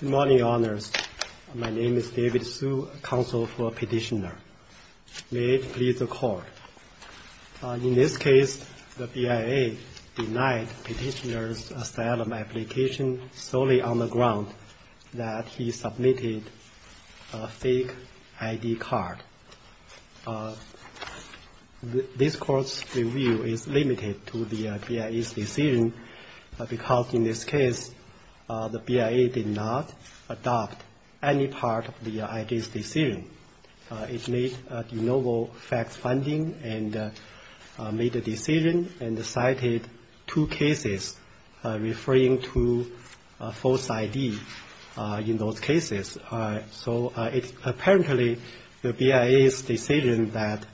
Good morning, Your Honors. My name is David Hsu, counsel for Petitioner. May it please the Court. In this case, the BIA denied Petitioner's asylum application solely on the ground that he submitted a fake ID card. This Court's review is limited to the BIA's decision because in this case, the BIA did not adopt any part of the ID's decision. It made a de novo fact finding and made a decision and cited two cases referring to a false ID in those cases. So it's apparently the BIA's decision that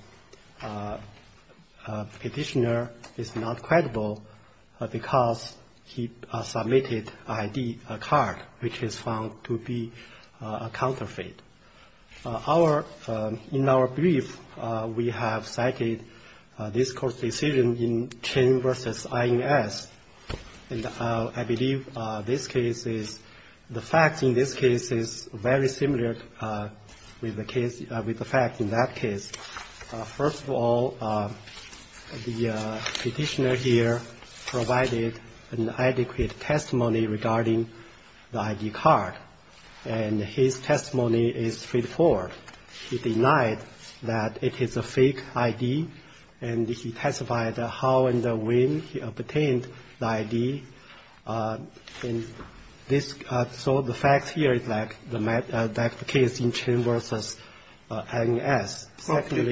Petitioner is not credible because he submitted an ID card which is found to be a counterfeit. In our brief, we have cited this Court's decision in Chen v. INS, and I believe this case is, the facts in this case is very similar with the facts in that case. First of all, the Petitioner here provided an adequate testimony regarding the ID card, and his testimony is straightforward. He denied that it is a fake ID, and he testified how and when he obtained the ID, and this, so the facts here is like the case in Chen v. INS. ROBERTSON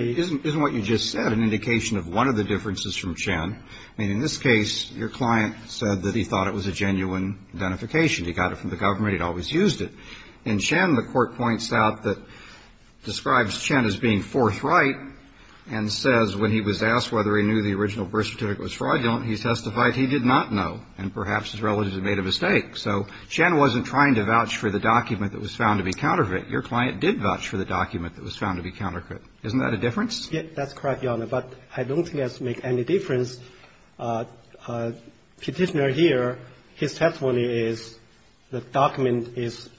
Isn't what you just said an indication of one of the differences from Chen? I mean, in this case, your client said that he thought it was a genuine identification. He got it from the government. He'd always used it. In Chen, the Court points out that it describes Chen as being forthright and says when he was asked whether he knew the original birth certificate was fraudulent, he testified he did not know, and perhaps his relatives had made a mistake. So Chen wasn't trying to vouch for the document that was found to be counterfeit. Your client did vouch for the document that was found to be counterfeit. Isn't that a difference? Yes, that's correct, Your Honor, but I don't think that's make any difference. Petitioner here, his testimony is the document is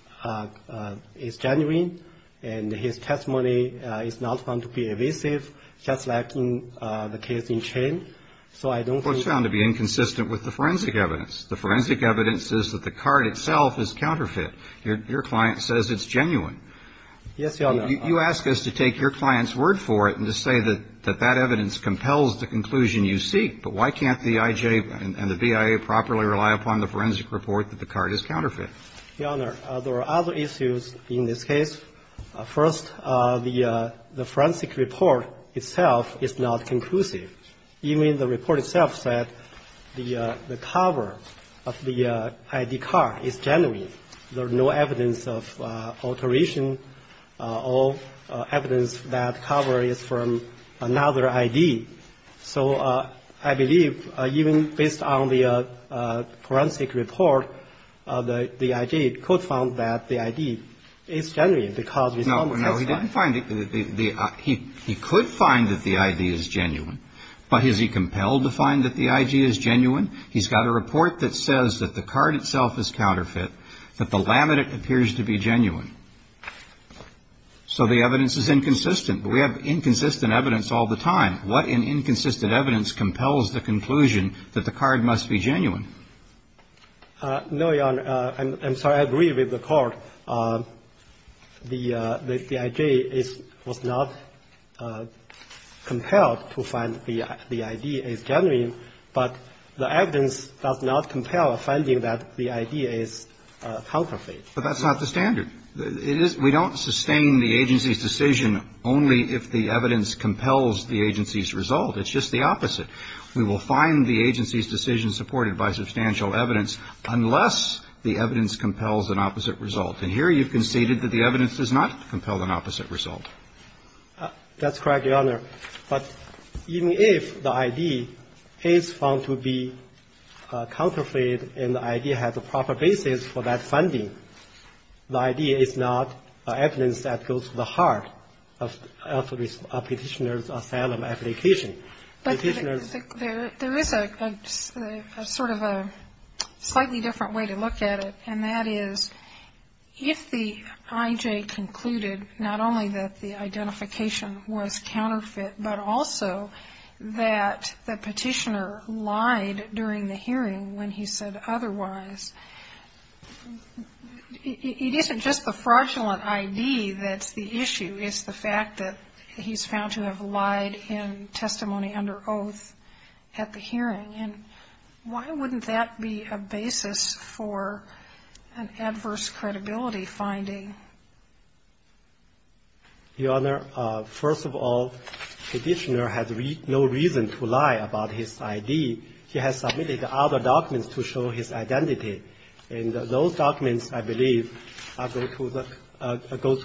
genuine, and his testimony is not found to be evasive, just like in the case in Chen. So I don't think that's a difference. Well, it's found to be inconsistent with the forensic evidence. The forensic evidence says that the card itself is counterfeit. Yes, Your Honor. You ask us to take your client's word for it and to say that that evidence compels the conclusion you seek, but why can't the IJ and the BIA properly rely upon the forensic report that the card is counterfeit? Your Honor, there are other issues in this case. First, the forensic report itself is not conclusive. Even the report itself said the cover of the ID card is genuine. There's no evidence of alteration or evidence that cover is from another ID. So I believe even based on the forensic report, the IJ could find that the ID is genuine because we found it. No, he didn't find it. He could find that the ID is genuine, but is he compelled to find that the IG is genuine? He's got a report that says that the card itself is counterfeit, that the laminate appears to be genuine. So the evidence is inconsistent. We have inconsistent evidence all the time. What in inconsistent evidence compels the conclusion that the card must be genuine? No, Your Honor. I'm sorry. I agree with the Court. So the IJ was not compelled to find the ID is genuine, but the evidence does not compel finding that the ID is counterfeit. But that's not the standard. We don't sustain the agency's decision only if the evidence compels the agency's result. It's just the opposite. We will find the agency's decision supported by substantial evidence unless the evidence compels an opposite result. And here you've conceded that the evidence does not compel an opposite result. That's correct, Your Honor. But even if the ID is found to be counterfeit and the ID has a proper basis for that funding, the ID is not evidence that goes to the heart of Petitioner's asylum application. But there is a sort of a slightly different way to look at it, and that is if the IJ concluded not only that the identification was counterfeit, but also that the Petitioner lied during the hearing when he said otherwise, it isn't just the fraudulent ID that's the issue, it's the fact that he's found to have lied in testimony under oath at the hearing. And why wouldn't that be a basis for an adverse credibility finding? Your Honor, first of all, Petitioner has no reason to lie about his ID. He has submitted other documents to show his identity. And those documents, I believe, go to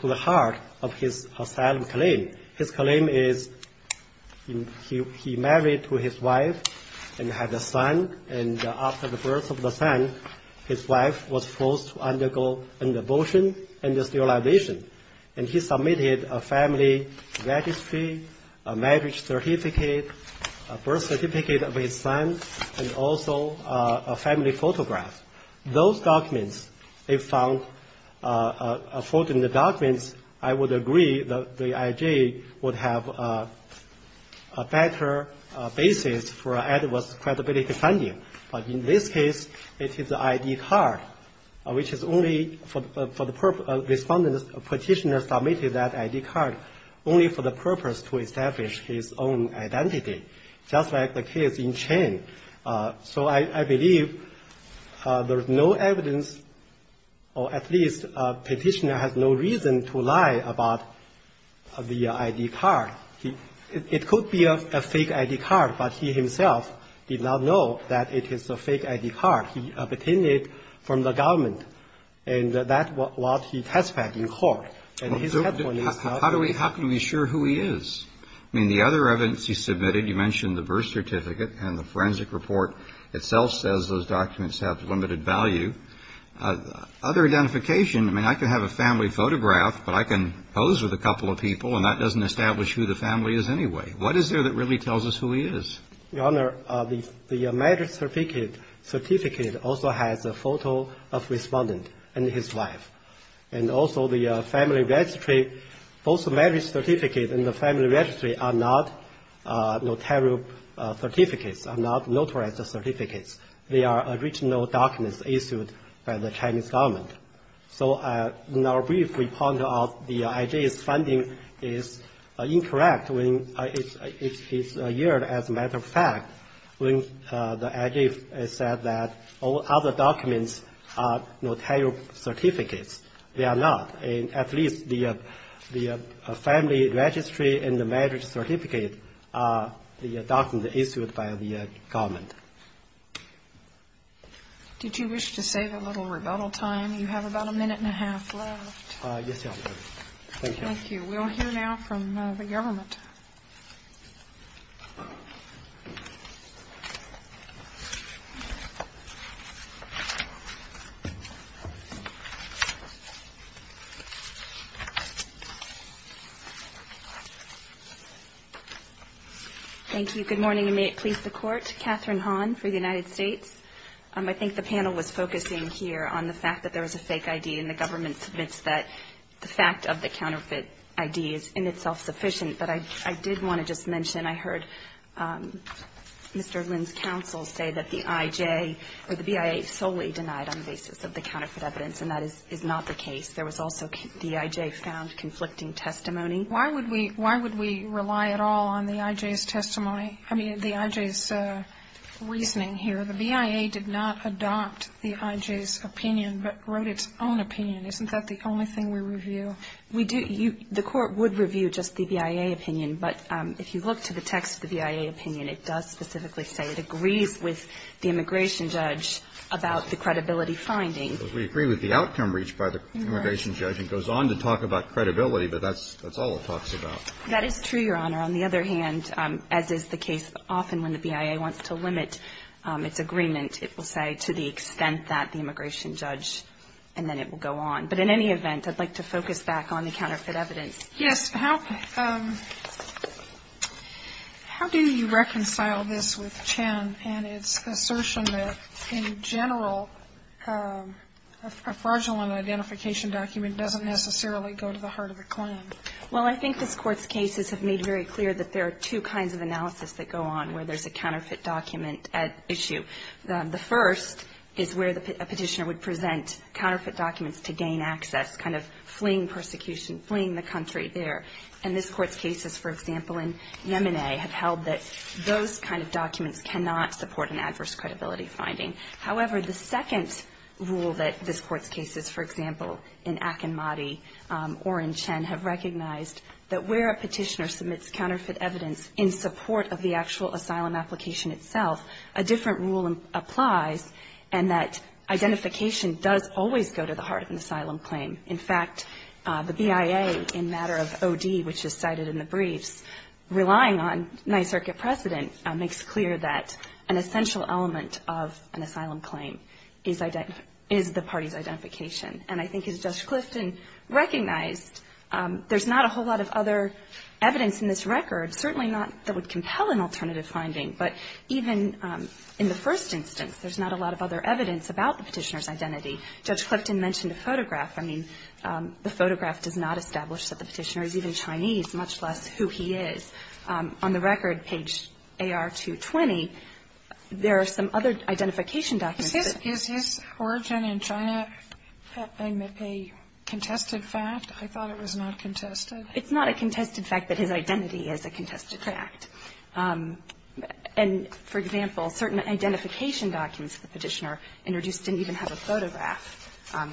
the heart of his asylum claim. His claim is he married to his wife and had a son. And after the birth of the son, his wife was forced to undergo an abortion and sterilization. And he submitted a family registry, a marriage certificate, a birth certificate of those documents. If found fraudulent documents, I would agree that the IJ would have a better basis for an adverse credibility finding. But in this case, it is the ID card, which is only for the purpose of Petitioner submitted that ID card only for the purpose to establish his own identity, just like the case in Chen. So I believe there's no evidence, or at least Petitioner has no reason to lie about the ID card. It could be a fake ID card, but he himself did not know that it is a fake ID card. He obtained it from the government. And that's what he testified in court. And his testimony is not true. How can we assure who he is? I mean, the other evidence he submitted, you mentioned the birth certificate and the forensic report itself says those documents have limited value. Other identification, I mean, I can have a family photograph, but I can pose with a couple of people, and that doesn't establish who the family is anyway. What is there that really tells us who he is? Your Honor, the marriage certificate also has a photo of Respondent and his wife. And also the family registry, both the marriage certificate and the family registry are not notarial certificates, are not notarized certificates. They are original documents issued by the Chinese government. So in our brief, we point out the IJ's funding is incorrect. It's a year, as a matter of fact, when the IJ said that all other documents are notarial certificates. They are not. At least the family registry and the marriage certificate are the documents issued by the government. Did you wish to save a little rebuttal time? You have about a minute and a half left. Thank you. Thank you. We will hear now from the government. Thank you. Good morning, and may it please the Court. Katherine Hahn for the United States. I think the panel was focusing here on the fact that there was a fake I.D. and the government submits that the fact of the counterfeit I.D. is in itself sufficient. But I did want to just mention I heard Mr. Lin's counsel say that the IJ or the BIA solely denied on the basis of the counterfeit evidence, and that is not the case. There was also the I.J. found conflicting testimony. Why would we rely at all on the I.J.'s testimony? I mean, the I.J.'s reasoning here. So the BIA did not adopt the I.J.'s opinion, but wrote its own opinion. Isn't that the only thing we review? We do. The Court would review just the BIA opinion. But if you look to the text of the BIA opinion, it does specifically say it agrees with the immigration judge about the credibility finding. We agree with the outcome reached by the immigration judge. It goes on to talk about credibility, but that's all it talks about. That is true, Your Honor. On the other hand, as is the case often when the BIA wants to limit its agreement, it will say to the extent that the immigration judge, and then it will go on. But in any event, I'd like to focus back on the counterfeit evidence. Yes. How do you reconcile this with Chen and its assertion that, in general, a fraudulent identification document doesn't necessarily go to the heart of the claim? Well, I think this Court's cases have made very clear that there are two kinds of analysis that go on where there's a counterfeit document issue. The first is where a petitioner would present counterfeit documents to gain access, kind of fleeing persecution, fleeing the country there. And this Court's cases, for example, in Yemeni have held that those kind of documents cannot support an adverse credibility finding. However, the second rule that this Court's cases, for example, in Akinmati or in Chen, have recognized that where a petitioner submits counterfeit evidence in support of the actual asylum application itself, a different rule applies, and that identification does always go to the heart of an asylum claim. In fact, the BIA, in matter of O.D., which is cited in the briefs, relying on night circuit precedent, makes clear that an essential element of an asylum claim is the party's identification. And I think as Judge Clifton recognized, there's not a whole lot of other evidence in this record, certainly not that would compel an alternative finding. But even in the first instance, there's not a lot of other evidence about the petitioner's identity. Judge Clifton mentioned a photograph. I mean, the photograph does not establish that the petitioner is even Chinese, much less who he is. On the record, page AR220, there are some other identification documents. Is his origin in China a contested fact? I thought it was not contested. It's not a contested fact that his identity is a contested fact. And, for example, certain identification documents of the petitioner introduced didn't even have a photograph.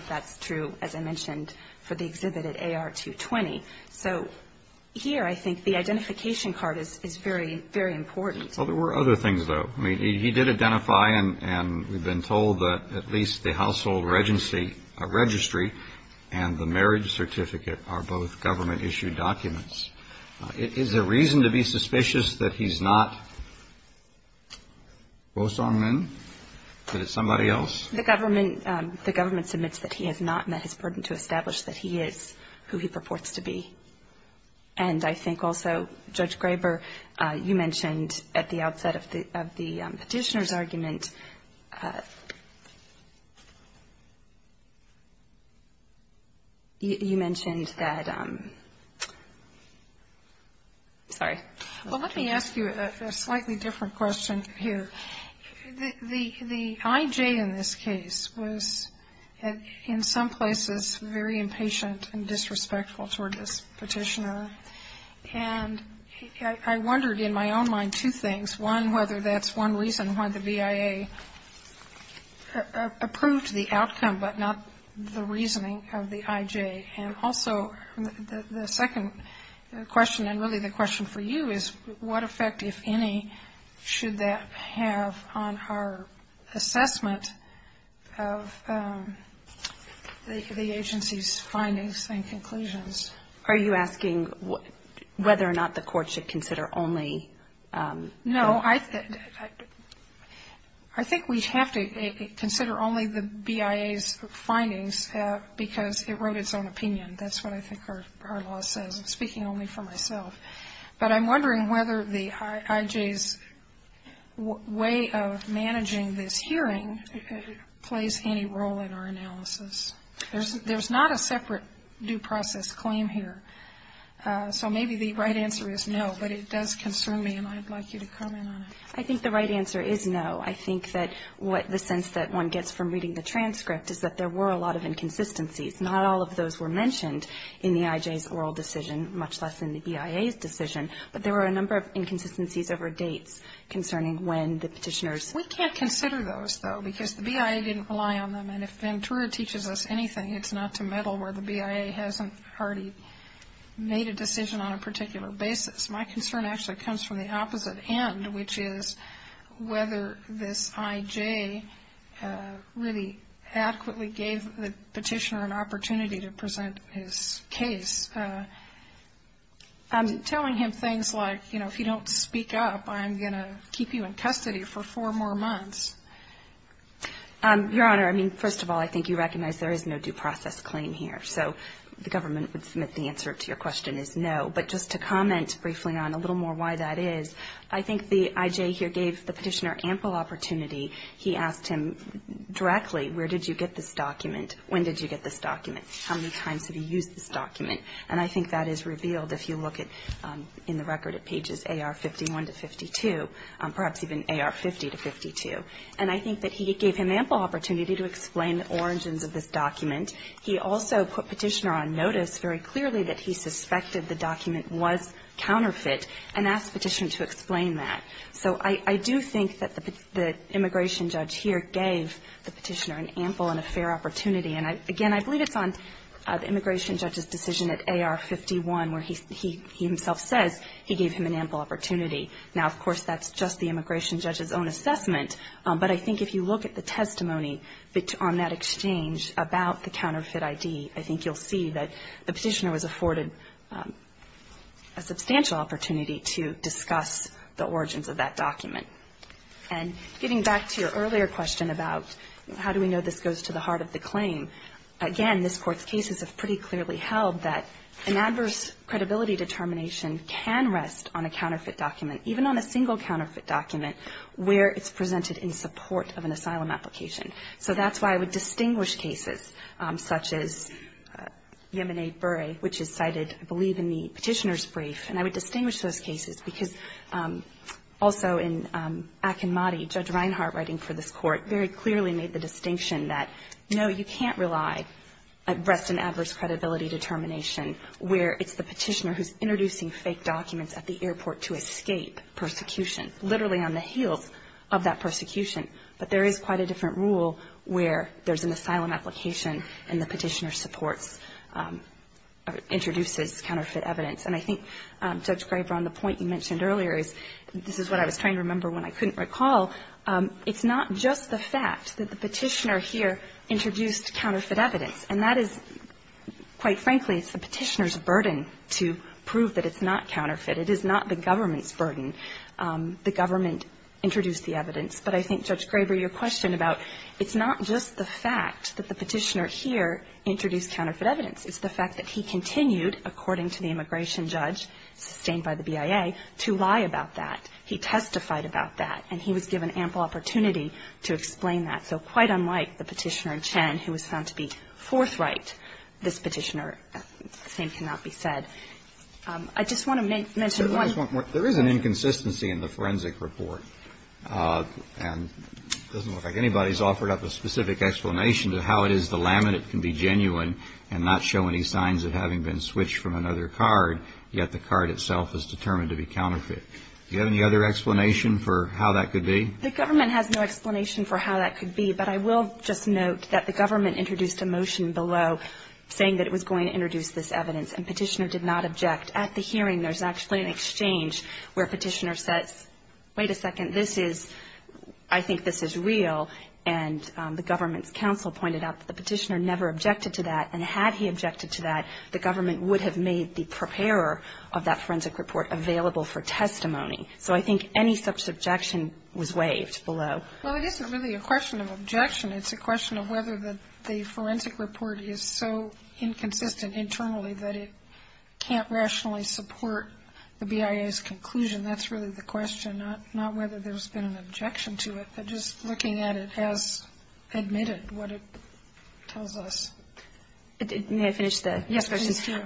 That's true, as I mentioned, for the exhibit at AR220. So here I think the identification card is very, very important. Well, there were other things, though. I mean, he did identify and we've been told that at least the household registry and the marriage certificate are both government-issued documents. Is there reason to be suspicious that he's not Rosong Min? That it's somebody else? The government submits that he has not met his burden to establish that he is who he purports to be. And I think also, Judge Graber, you mentioned at the outset of the petitioner's argument, you mentioned that, sorry. Well, let me ask you a slightly different question here. The I.J. in this case was in some places very impatient and disrespectful toward this petitioner. And I wondered in my own mind two things. One, whether that's one reason why the V.I.A. approved the outcome, but not the reasoning of the I.J. And also the second question, and really the question for you, is what effect, if any, should that have on our assessment of the agency's findings and conclusions? Are you asking whether or not the court should consider only? No. I think we have to consider only the V.I.A.'s findings because it wrote its own opinion. That's what I think our law says. I'm speaking only for myself. But I'm wondering whether the I.J.'s way of managing this hearing plays any role in our analysis. There's not a separate due process claim here. So maybe the right answer is no, but it does concern me, and I'd like you to comment on it. I think the right answer is no. I think that what the sense that one gets from reading the transcript is that there were a lot of inconsistencies. Not all of those were mentioned in the I.J.'s oral decision, much less in the V.I.A.'s decision, but there were a number of inconsistencies over dates concerning when the petitioners. We can't consider those, though, because the V.I.A. didn't rely on them. And if Ventura teaches us anything, it's not to meddle where the V.I.A. hasn't already made a decision on a particular basis. My concern actually comes from the opposite end, which is whether this I.J. really adequately gave the petitioner an opportunity to present his case. I'm telling him things like, you know, if you don't speak up, I'm going to keep you in custody for four more months. Your Honor, I mean, first of all, I think you recognize there is no due process claim here. So the government would submit the answer to your question is no. But just to comment briefly on a little more why that is, I think the I.J. here gave the petitioner ample opportunity. He asked him directly, where did you get this document? When did you get this document? How many times have you used this document? And I think that is revealed if you look in the record at pages A.R. 51 to 52, perhaps even A.R. 50 to 52. And I think that he gave him ample opportunity to explain origins of this document. He also put Petitioner on notice very clearly that he suspected the document was counterfeit and asked Petitioner to explain that. So I do think that the immigration judge here gave the petitioner an ample and a fair opportunity. And, again, I believe it's on the immigration judge's decision at A.R. 51 where he himself says he gave him an ample opportunity. Now, of course, that's just the immigration judge's own assessment. But I think if you look at the testimony on that exchange about the counterfeit I.D., I think you'll see that the petitioner was afforded a substantial opportunity to discuss the origins of that document. And getting back to your earlier question about how do we know this goes to the heart of the claim, again, this Court's cases have pretty clearly held that an adverse credibility determination can rest on a counterfeit document, even on a single counterfeit document, where it's presented in support of an asylum application. So that's why I would distinguish cases such as Yemeni-Bure, which is cited, I believe, in the Petitioner's brief, and I would distinguish those cases because also in Akinmati, Judge Reinhart writing for this Court very clearly made the distinction that, no, you can't rely on rest in adverse credibility determination where it's the petitioner who's introducing fake documents at the airport to escape persecution, literally on the heels of that persecution. But there is quite a different rule where there's an asylum application and the petitioner supports or introduces counterfeit evidence. And I think, Judge Graber, on the point you mentioned earlier, this is what I was trying to remember when I couldn't recall, it's not just the fact that the petitioner here introduced counterfeit evidence. And that is, quite frankly, it's the petitioner's burden to prove that it's not counterfeit. It is not the government's burden. The government introduced the evidence. But I think, Judge Graber, your question about it's not just the fact that the petitioner here introduced counterfeit evidence. It's the fact that he continued, according to the immigration judge, sustained by the BIA, to lie about that. He testified about that. And he was given ample opportunity to explain that. So quite unlike the petitioner in Chen, who was found to be forthright, this petitioner, the same cannot be said. I just want to mention one more. Kennedy. There is an inconsistency in the forensic report. And it doesn't look like anybody's offered up a specific explanation to how it is the laminate can be genuine and not show any signs of having been switched from another card, yet the card itself is determined to be counterfeit. Do you have any other explanation for how that could be? The government has no explanation for how that could be. But I will just note that the government introduced a motion below saying that it was going to introduce this evidence. And petitioner did not object. At the hearing, there's actually an exchange where petitioner says, wait a second, this is, I think this is real. And the government's counsel pointed out that the petitioner never objected to that. And had he objected to that, the government would have made the preparer of that testimony. So I think any such objection was waived below. Well, it isn't really a question of objection. It's a question of whether the forensic report is so inconsistent internally that it can't rationally support the BIA's conclusion. That's really the question, not whether there's been an objection to it, but just looking at it as admitted, what it tells us. May I finish the questions? Yes, please do.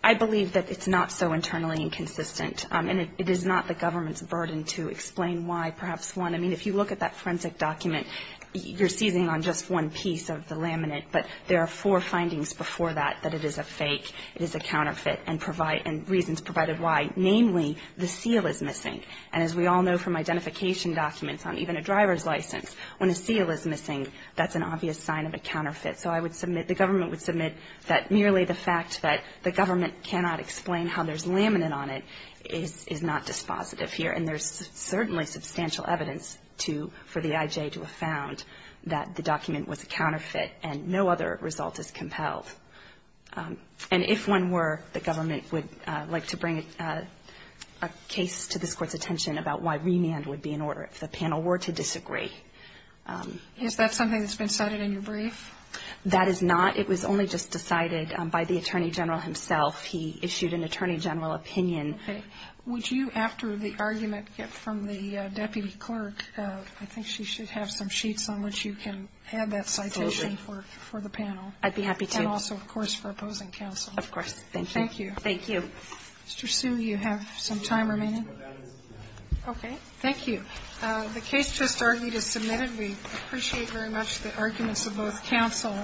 I believe that it's not so internally inconsistent. And it is not the government's burden to explain why. Perhaps one, I mean, if you look at that forensic document, you're seizing on just one piece of the laminate. But there are four findings before that, that it is a fake, it is a counterfeit, and provide and reasons provided why. Namely, the seal is missing. And as we all know from identification documents on even a driver's license, when a seal is missing, that's an obvious sign of a counterfeit. So I would submit, the government would submit that merely the fact that the government cannot explain how there's laminate on it is not dispositive here. And there's certainly substantial evidence for the IJ to have found that the document was a counterfeit, and no other result is compelled. And if one were, the government would like to bring a case to this Court's attention about why remand would be in order, if the panel were to disagree. Is that something that's been cited in your brief? That is not. It was only just decided by the Attorney General himself. He issued an Attorney General opinion. Okay. Would you, after the argument from the Deputy Clerk, I think she should have some sheets on which you can add that citation for the panel. Absolutely. I'd be happy to. And also, of course, for opposing counsel. Of course. Thank you. Thank you. Thank you. Mr. Hsu, you have some time remaining? Okay. Thank you. The case just argued is submitted. We appreciate very much the arguments of both counsel.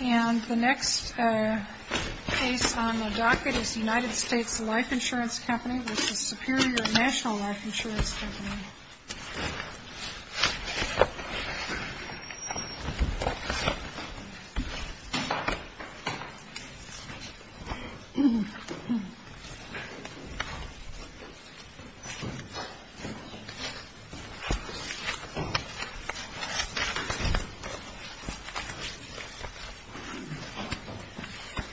And the next case on the docket is United States Life Insurance Company, which is Superior National Life Insurance Company. Thank you.